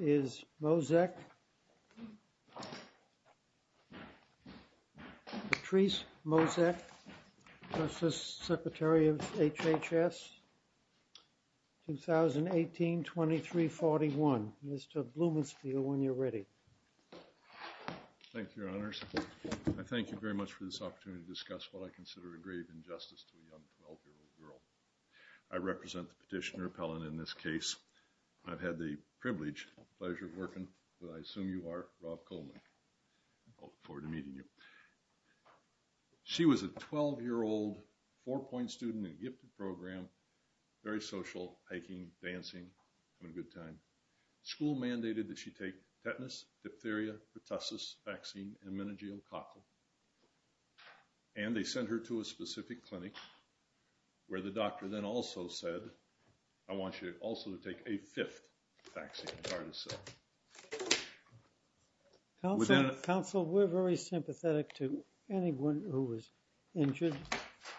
is Moczek, Patrice Moczek, Justice Secretary of HHS 2018-2341. Mr. Blumenspiel, when you're ready. Thank you, Your Honors. I thank you very much for this opportunity to discuss what I consider a grave injustice to a young 12-year-old girl. I represent the petitioner appellant in this case. I've had the privilege, pleasure of working with, I assume you are, Rob Coleman. I look forward to meeting you. She was a 12-year-old four-point student in a gifted program, very social, hiking, dancing, having a good time. School mandated that she take tetanus, diphtheria, pertussis vaccine, and meningococcal, and they sent her to a specific clinic where the doctor then also said, I want you also to take a fifth vaccine, pardon the self. Counsel, we're very sympathetic to anyone who was injured,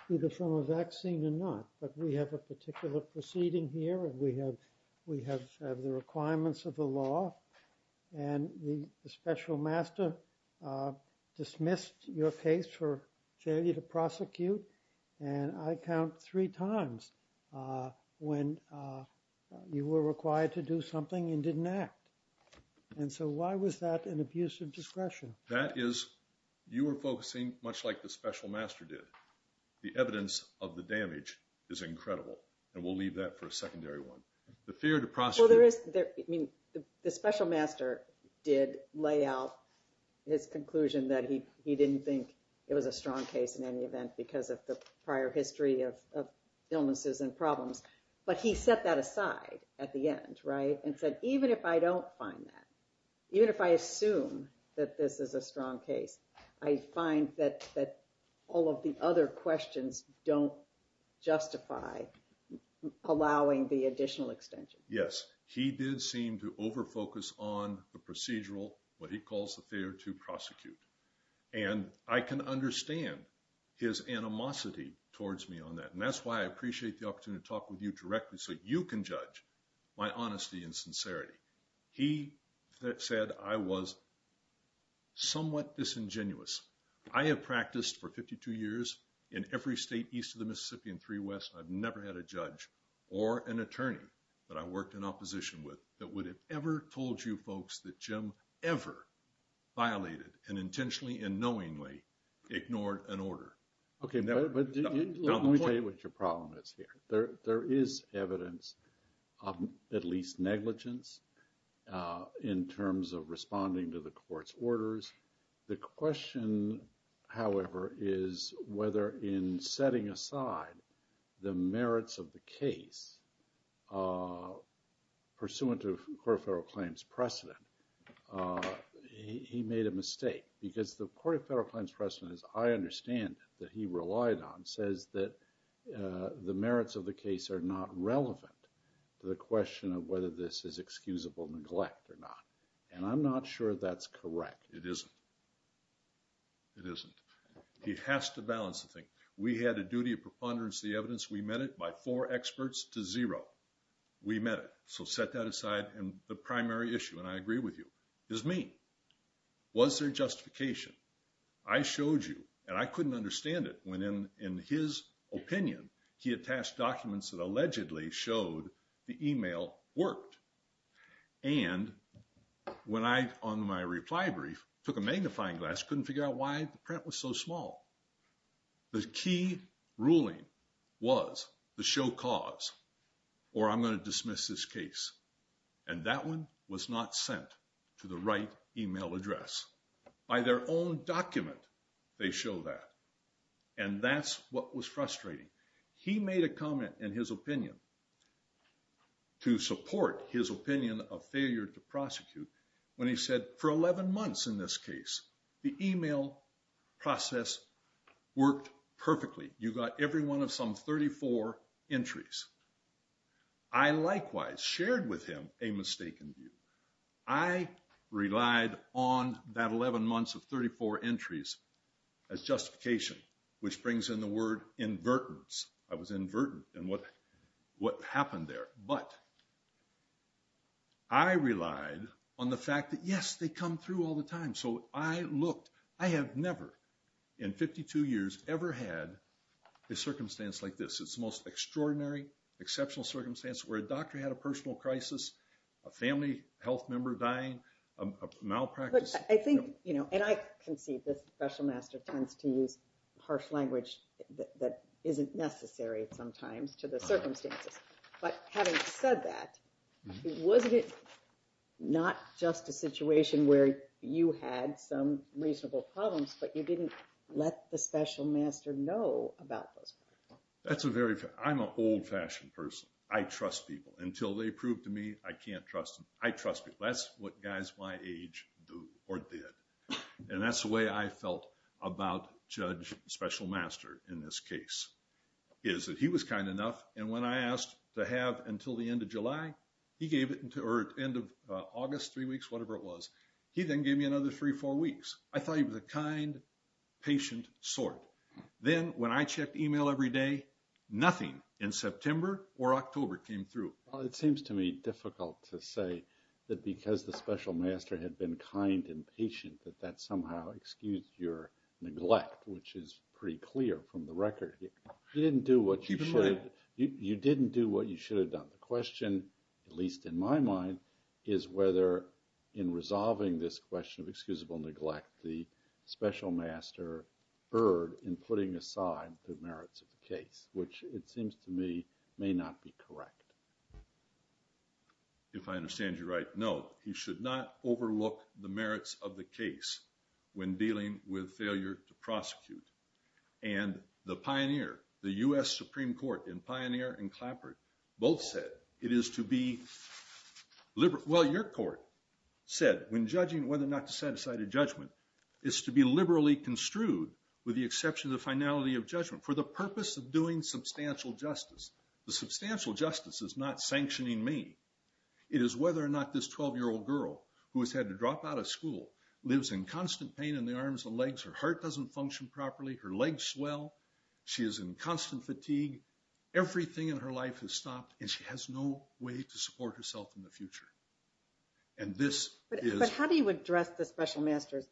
either from a vaccine or not, but we have a particular proceeding here, and we have the requirements of the law, and the special master dismissed your case for failure to prosecute, and I count three times when you were required to do something and didn't act, and so why was that an abuse of discretion? That is, you were focusing much like the special master did. The evidence of the damage is incredible, and we'll leave that for a secondary one. The fear to prosecute. Well, there is, I mean, the special master did lay out his conclusion that he didn't think it was a strong case in any event because of the prior history of illnesses and problems, but he set that aside at the end, right, and said, even if I don't find that, even if I assume that this is a strong case, I find that all of the other questions don't justify allowing the additional extension. Yes, he did seem to overfocus on the procedural, what he calls the fear to prosecute, and I can understand his animosity towards me on that, and that's why I appreciate the opportunity to talk with you directly so you can judge my honesty and sincerity. He said I was somewhat disingenuous. I have practiced for 52 years in every state east of the Mississippi and three west. I've never had a judge or an attorney that I worked in opposition with that had ever told you folks that Jim ever violated and intentionally and knowingly ignored an order. Okay, but let me tell you what your problem is here. There is evidence of at least negligence in terms of responding to the court's orders. The question, however, is whether in setting aside the merits of the case pursuant to the Court of Federal Claims precedent, he made a mistake because the Court of Federal Claims precedent, as I understand it, that he relied on says that the merits of the case are not relevant to the question of whether this is excusable neglect or not, and I'm not sure that's correct. It isn't. It isn't. He has to preponderance the evidence. We met it by four experts to zero. We met it, so set that aside, and the primary issue, and I agree with you, is me. Was there justification? I showed you, and I couldn't understand it when in his opinion he attached documents that allegedly showed the email worked, and when I, on my reply brief, took a magnifying glass, couldn't figure out why the print was so small. The key ruling was the show cause, or I'm going to dismiss this case, and that one was not sent to the right email address. By their own document, they show that, and that's what was frustrating. He made a comment in his opinion to support his opinion of failure to prosecute when he said for 11 months in this case, the email process worked perfectly. You got every one of some 34 entries. I likewise shared with him a mistaken view. I relied on that 11 months of 34 entries as justification, which brings in the word invertence. I was invertent in what happened there, but I relied on the fact that, yes, they come through all the time, so I looked. I have never in 52 years ever had a circumstance like this. It's the most extraordinary, exceptional circumstance where a doctor had a personal crisis, a family health member dying, a malpractice. I think, you know, and I concede this special master tends to use harsh language that isn't necessary sometimes to the circumstances, but having said that, wasn't it not just a situation where you had some reasonable problems, but you didn't let the special master know about those? That's a very, I'm an old-fashioned person. I trust people. Until they prove to me, I can't trust them. I trust people. That's what guys my age do or did, and that's the way I felt about Judge Special Master in this case, is that he was kind enough, and when I asked to have until the end of July, he gave it until the end of August, three weeks, whatever it was. He then gave me another three, four weeks. I thought he was a kind, patient sort. Then when I checked email every day, nothing in September or October came through. Well, it seems to me difficult to say that because the special master had been kind and patient that that somehow excused your neglect, which is pretty clear from the record. You didn't do what you should have done. The question, at least in my mind, is whether in resolving this question of excusable neglect, the special master erred in putting aside the merits of the case, which it seems to me may not be correct. If I understand you right, no. You should not overlook the merits of the case when dealing with failure to prosecute, and the pioneer, the U.S. Supreme Court, and Pioneer and Clapper both said it is to be liberal. Well, your court said when judging whether or not to set aside a judgment is to be liberally construed with the exception of the finality of judgment for the purpose of doing substantial justice. The substantial justice is not sanctioning me. It is whether or not this 12-year-old girl who has had to drop out of school lives in constant pain in the arms and legs, her heart doesn't function properly, her legs swell, she is in constant fatigue, everything in her life has stopped, and she has no way to support herself in the future. But how do you address the special master's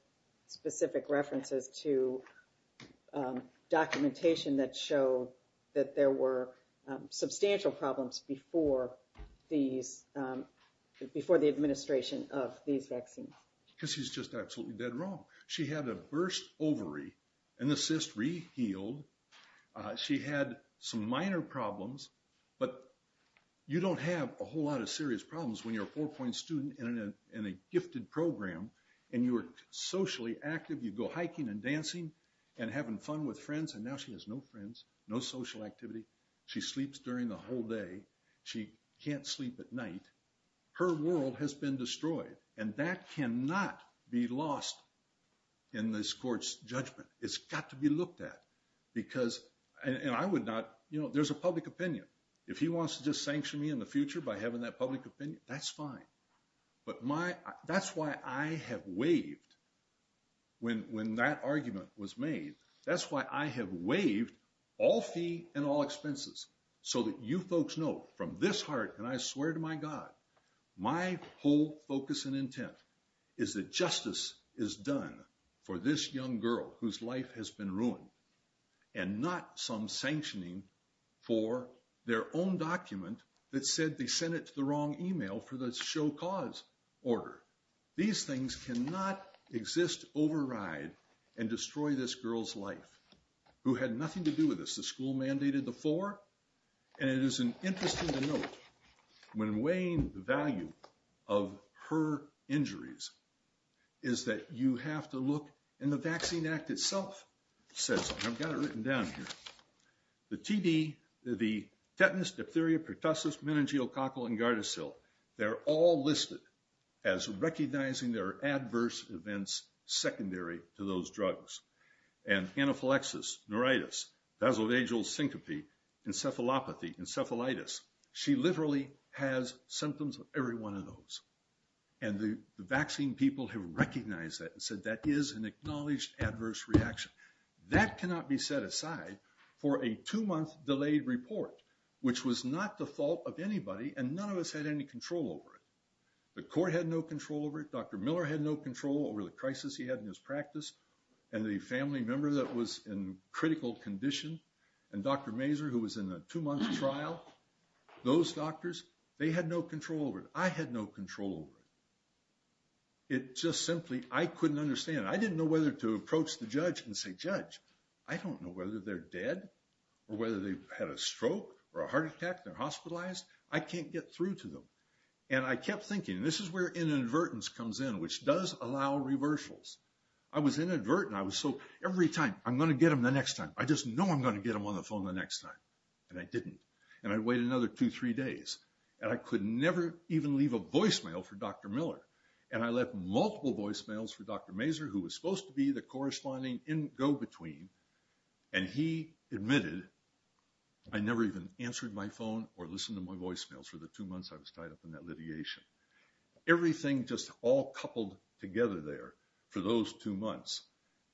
specific references to documentation that show that there were substantial problems before the administration of these vaccines? Because she's just absolutely dead wrong. She had a burst ovary and the cyst rehealed. She had some minor problems, but you don't have a whole lot of serious problems when you're a four-point student in a gifted program and you are socially active. You go hiking and having fun with friends and now she has no friends, no social activity. She sleeps during the whole day. She can't sleep at night. Her world has been destroyed and that cannot be lost in this court's judgment. It's got to be looked at because, and I would not, you know, there's a public opinion. If he wants to just sanction me in the future by having that public opinion, that's fine. But that's why I have waived, when that argument was made, that's why I have waived all fee and all expenses so that you folks know from this heart, and I swear to my God, my whole focus and intent is that justice is done for this young girl whose life has been ruined and not some sanctioning for their own document that said they sent it to the wrong email for show-cause order. These things cannot exist, override, and destroy this girl's life who had nothing to do with this. The school mandated the four and it is interesting to note when weighing the value of her injuries is that you have to look, and the Vaccine Act itself says, and I've got it written down here, the TB, the tetanus, diphtheria, pertussis, meningococcal, and gardasil, they're all listed as recognizing their adverse events secondary to those drugs. And anaphylaxis, neuritis, basal vagal syncope, encephalopathy, encephalitis, she literally has symptoms of every one of those. And the vaccine people have recognized that and said that is an acknowledged adverse reaction. That cannot be set aside for a two-month delayed report, which was not the fault of anybody and none of us had any control over it. The court had no control over it, Dr. Miller had no control over the crisis he had in his practice, and the family member that was in critical condition, and Dr. Mazur who was in a two-month trial, those doctors, they had no control over it. I had no control over it. It just simply, I couldn't understand. I didn't know whether to approach the judge and say, judge, I don't know whether they're dead or whether they had a stroke or a heart attack, they're hospitalized, I can't get through to them. And I kept thinking, this is where inadvertence comes in, which does allow reversals. I was inadvertent. I was so, every time, I'm going to get them the next time. I just know I'm going to get them on the phone the next time. And I didn't. And I'd wait another two, three days. And I could never even leave a voicemail for Dr. Miller. And I left multiple voicemails for Dr. Mazur, who was supposed to be the corresponding in go-between, and he admitted I never even answered my phone or listened to my voicemails for the two months I was tied up in that litigation. Everything just all coupled together there for those two months.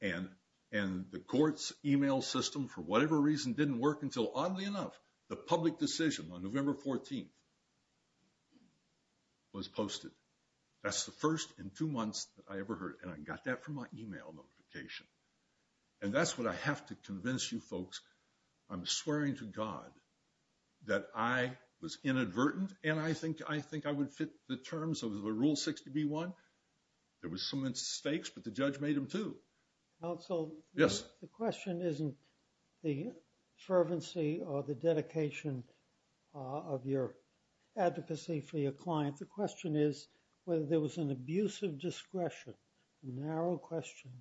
And the court's email system, for whatever reason, didn't work until, oddly enough, the public decision on November 14th was posted. That's the first in two months that I And that's what I have to convince you folks. I'm swearing to God that I was inadvertent, and I think I would fit the terms of the Rule 60b-1. There were some mistakes, but the judge made them too. Counsel? Yes. The question isn't the fervency or the dedication of your advocacy for your client. The question is whether there was an abuse of discretion, a narrow question,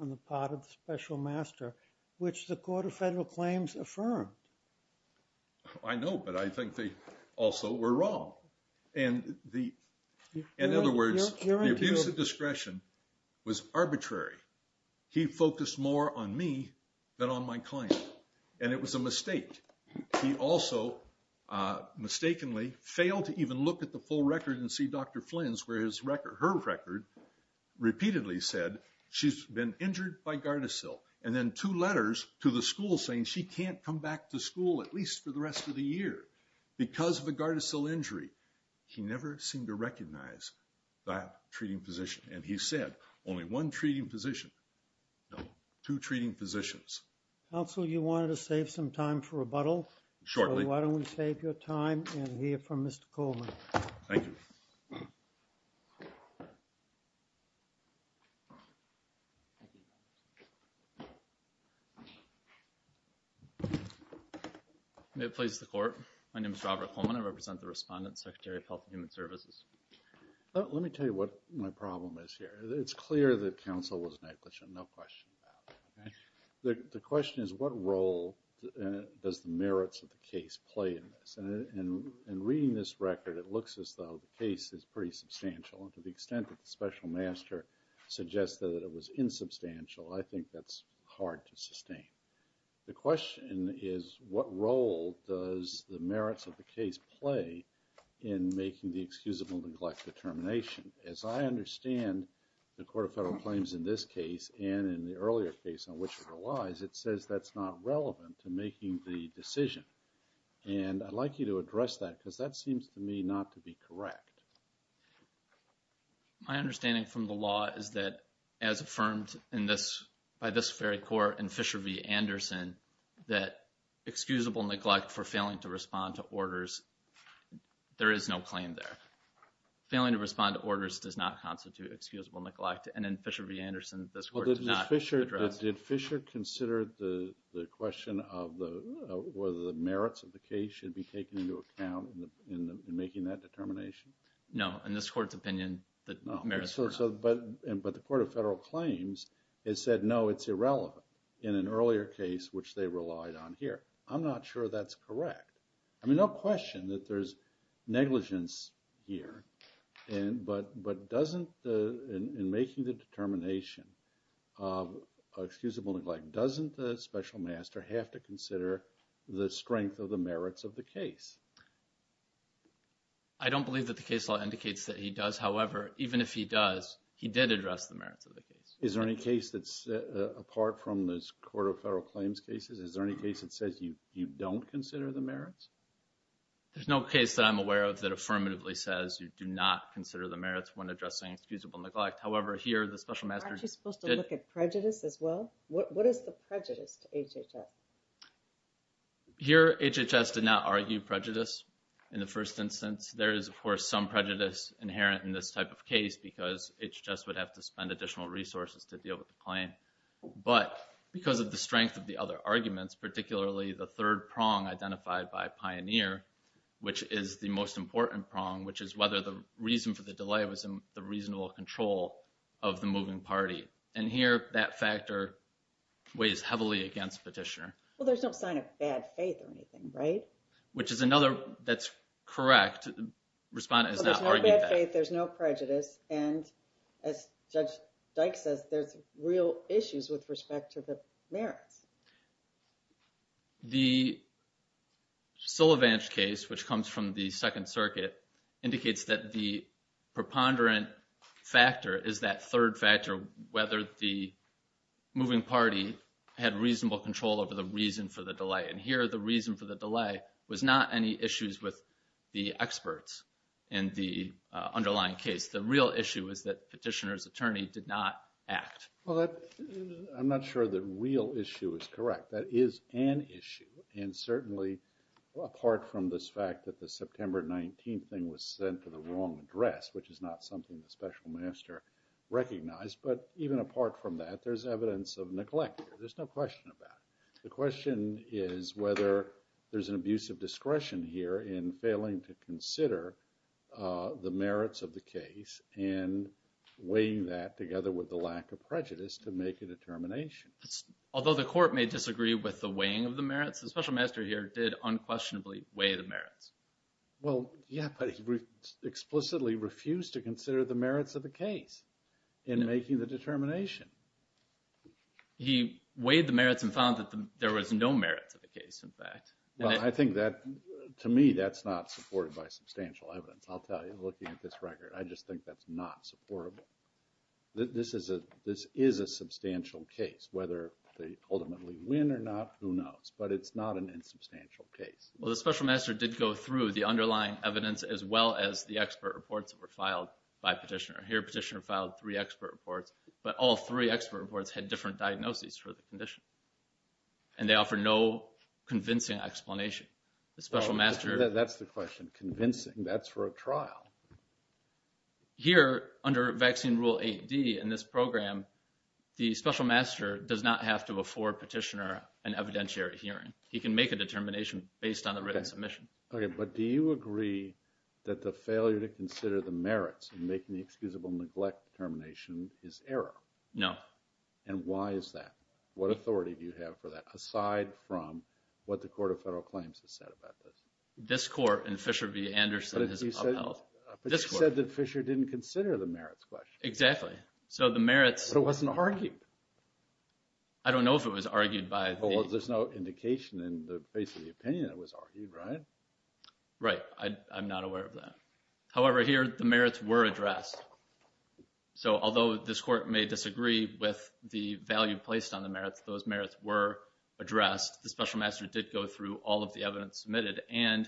on the part of the special master, which the Court of Federal Claims affirmed. I know, but I think they also were wrong. And the, in other words, the abuse of discretion was arbitrary. He focused more on me than on my client, and it was a mistake. He also mistakenly failed to even look at the full record and see Dr. Flynn's where his record, her record, repeatedly said she's been injured by Gardasil, and then two letters to the school saying she can't come back to school at least for the rest of the year because of a Gardasil injury. He never seemed to recognize that treating physician, and he said only one treating physician. No, two treating physicians. Counsel, you wanted to save some time for rebuttal. Shortly. Why don't we save your time and hear from Mr. Coleman. Thank you. Robert Coleman May it please the Court. My name is Robert Coleman. I represent the Respondent, Secretary of Health and Human Services. Let me tell you what my problem is here. It's clear that counsel was negligent, no question about it. The question is what role does the merits of the case play in this? And in reading this record, it looks as though the case is pretty substantial, and to the extent that the Special Master suggested that it was insubstantial, I think that's hard to sustain. The question is what role does the merits of the case play in making the excusable neglect determination? As I understand the Court of Federal Claims in this case, and in the earlier case on which it relies, it says that's not relevant to making the decision, and I'd like you to address that because that seems to me not to be correct. My understanding from the law is that, as affirmed by this very Court and Fisher v. Anderson, that excusable neglect for failing to respond to orders, there is no claim there. Failing to respond to orders does not constitute excusable neglect, and in Fisher v. Anderson, this Court did not address it. Did Fisher consider the question of whether the merits of the case should be taken into account in making that determination? No. In this Court's opinion, the merits are not. But the Court of Federal Claims has said, no, it's irrelevant, in an earlier case which they relied on here. I'm not sure that's correct. I mean, no question that there's negligence here, but in making the determination of excusable neglect, doesn't the Special Master have to consider the strength of the merits of the case? I don't believe that the case law indicates that he does. However, even if he does, he did address the merits of the case. Is there any case that's, apart from the Court of Federal Claims cases, is there any case that says you don't consider the merits? There's no case that I'm aware of that affirmatively says you do not consider the merits when addressing excusable neglect. However, here, the Special Master has argued that there is some prejudice to HHS. Here, HHS did not argue prejudice in the first instance. There is, of course, some prejudice inherent in this type of case because HHS would have to spend additional resources to deal with the claim. But because of the strength of the other arguments, particularly the third prong identified by Pioneer, which is the most important prong, which is whether the reason for the delay was the reasonable control of the moving party. And here, that factor weighs heavily against Petitioner. Well, there's no sign of bad faith or anything, right? Which is another, that's correct. Respondent has not argued that. There's no prejudice and as Judge Dyke says, there's real issues with respect to the merits. The Sulevance case, which comes from the Second Circuit, indicates that the preponderant factor is that third factor, whether the moving party had reasonable control over the reason for the delay. And here, the reason for the delay was not any issues with the experts in the underlying case. The real issue is that Petitioner's attorney did not act. Well, I'm not sure that real issue is correct. That is an issue. And certainly, apart from this fact that the September 19th thing was sent to the wrong address, which is not something the Special Master recognized, but even apart from that, there's evidence of neglect. There's no question about it. The question is whether there's an abuse of discretion here in failing to consider the merits of the case and weighing that together with the lack of prejudice to make a determination. Although the Court may disagree with the weighing of the merits, the Special Master here did unquestionably weigh the merits. Well, yeah, but he explicitly refused to consider the merits of the case in making the determination. He weighed the merits and found that there was no merits of the case, in fact. Well, I think that, to me, that's not supported by substantial evidence. I'll tell you, looking at this record, I just think that's not supportable. This is a substantial case. Whether they ultimately win or not, who knows? But it's not an insubstantial case. Well, the Special Master did go through the underlying evidence, as well as the expert reports that were filed by Petitioner. Here, Petitioner filed three expert reports, but all three expert reports had different diagnoses for the condition, and they offer no convincing explanation. The Special Master... Well, that's the question. Convincing. That's for a trial. Here, under Vaccine Rule 8D in this program, the Special Master does not have to afford Petitioner an evidentiary hearing. He can make a determination based on the written submission. Okay, but do you agree that the failure to consider the merits in making the excusable neglect determination is error? No. And why is that? What authority do you have for that, aside from what the Court of Federal Claims has said about this? This Court in Fisher v. Anderson has upheld... But you said that Fisher didn't consider the merits question. Exactly. So the merits... I don't know if it was argued by... Well, there's no indication in the face of the opinion it was argued, right? Right. I'm not aware of that. However, here, the merits were addressed. So although this Court may disagree with the value placed on the merits, those merits were addressed. The Special Master did go through all of the evidence submitted, and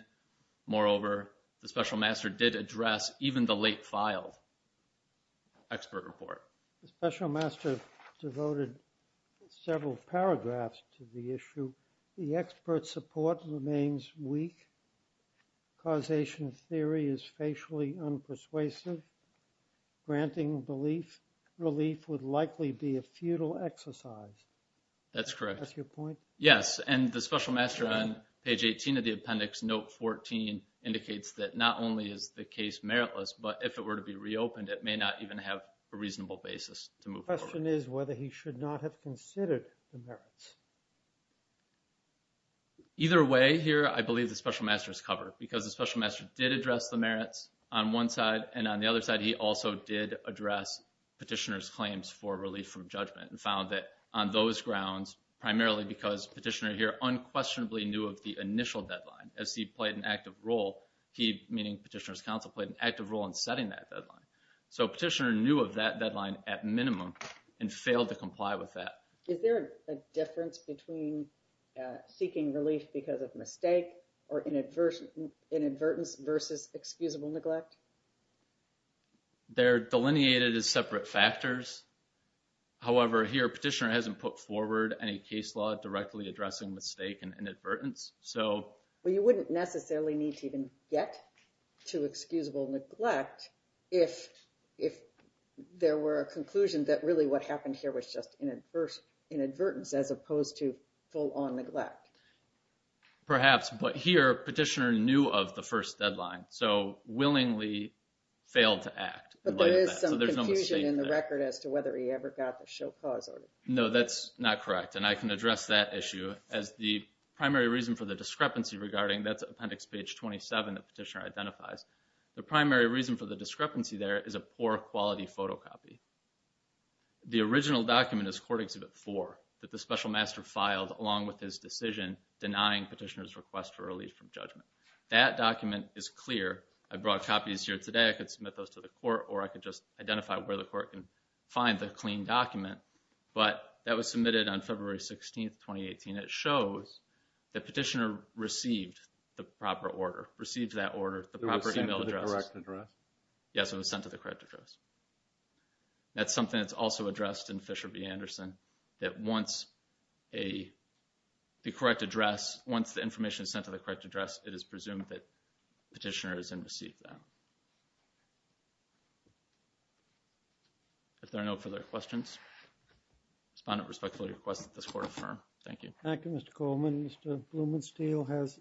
moreover, the Special Master did address even the late-filed expert report. The Special Master devoted several paragraphs to the issue. The expert support remains weak. Causation theory is facially unpersuasive. Granting relief would likely be a futile exercise. That's correct. That's your point? Yes. And the Special Master on page 18 of the appendix, note 14, indicates that not only is the case meritless, but if it were to be reopened, it may not even have a reasonable basis to move forward. The question is whether he should not have considered the merits. Either way, here, I believe the Special Master is covered, because the Special Master did address the merits on one side, and on the other side, he also did address Petitioner's claims for relief from judgment and found that on those grounds, primarily because Petitioner here unquestionably knew of the initial deadline. As he played an active role, he, meaning Petitioner's counsel, played an active role in setting that deadline. So Petitioner knew of that deadline at minimum and failed to comply with that. Is there a difference between seeking relief because of mistake or inadvertence versus excusable neglect? They're delineated as separate factors. However, here, Petitioner hasn't put forward any case law directly addressing mistake and inadvertence, so... Well, you wouldn't necessarily need to even get to excusable neglect if there were a conclusion that really what happened here was just inadvertence as opposed to full-on neglect. Perhaps, but here, Petitioner knew of the first deadline, so willingly failed to act in light of that. But there is some confusion in the record as to whether he ever got the show cause order. No, that's not correct, and I can address that issue as the primary reason for the discrepancy regarding, that's Appendix Page 27 that Petitioner identifies. The primary reason for the discrepancy there is a poor quality photocopy. The original document is Court Exhibit 4 that the Special Master filed along with his decision denying Petitioner's request for relief from judgment. That document is clear. I brought copies here today. I could submit those to the court or I could just identify where the court can find the clean document, but that was submitted on February 16th, 2018. It shows that Petitioner received the proper order, received that order, the proper email address. Yes, it was sent to the correct address. That's something that's also addressed in Fisher v. Anderson, that once the correct address, once the information is sent to the correct address, it is presumed that Petitioner has then received that. If there are no further questions, Respondent respectfully requests that this Court affirm. Thank you. Thank you, Mr. Coleman. Mr. Blumensteel has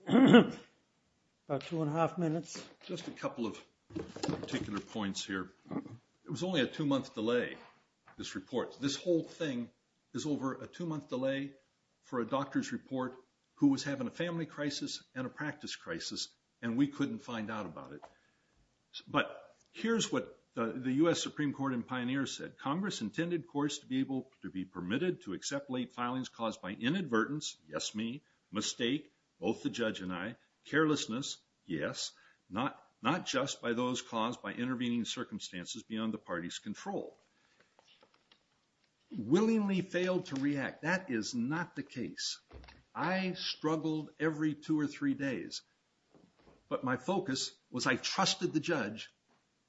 about two and a half minutes. Just a couple of particular points here. It was only a two-month delay, this report. This whole thing is over a two-month delay for a doctor's report who was having a family crisis and a practice crisis, and we couldn't find out about it. But here's what the U.S. Supreme Court and Pioneer said. Congress intended courts to be able to be permitted to accept late filings caused by inadvertence, yes me, mistake, both the judge and I, carelessness, yes, not just by those caused by intervening circumstances beyond the party's control. Willingly failed to react, that is not the case. I struggled every two or three days, but my focus was I trusted the judge,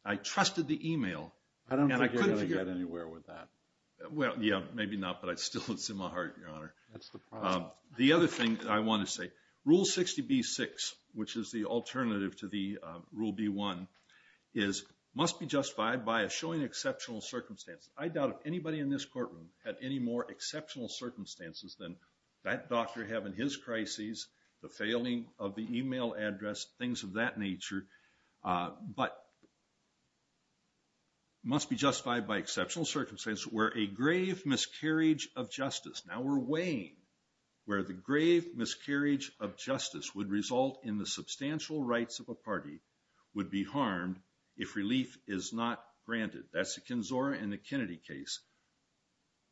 I trusted the email. I don't think you're going to get anywhere with that. Well, yeah, maybe not, but it's still in my heart, Your Honor. That's the problem. The other thing that I want to say, Rule 60B-6, which is the alternative to the Rule B-1, is must be justified by a showing exceptional circumstances. I doubt if anybody in this courtroom had any more exceptional circumstances than that doctor having his crises, the failing of the email address, things of that nature, but it must be justified by exceptional circumstances where a grave miscarriage of justice, now we're weighing where the grave miscarriage of justice would result in the substantial rights of a party would be harmed if relief is not granted. That's the Kinzora and the Kennedy case.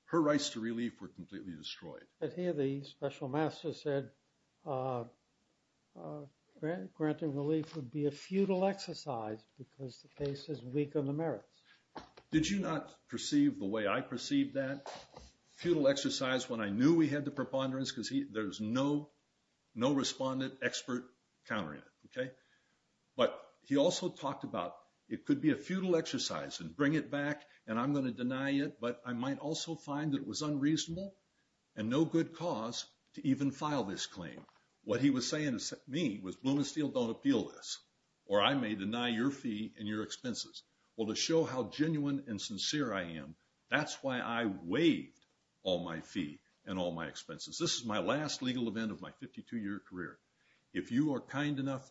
Her rights to relief were completely destroyed. But here the special master said granting relief would be a futile exercise because the case is weak on the merits. Did you not perceive the way I perceived that? Futile exercise when I knew we had the preponderance because there's no respondent expert countering it, okay? But he also talked about it could be a futile exercise and bring it back and I'm going to deny it, but I might also find it was unreasonable and no good cause to even file this claim. What he was saying to me was Bloom and Steele don't appeal this or I may deny your fee and your expenses. Well, to show how genuine and sincere I am, that's why I waived all my fee and all my expenses. This is my last legal event of my 52 year career. If you are kind enough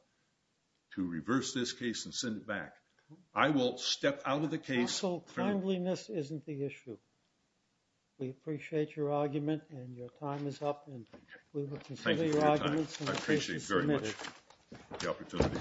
to reverse this case and send it back, I will step out of the case. Counsel, kindliness isn't the issue. We appreciate your argument and your time is up. Thank you for your time. I appreciate very much the opportunity.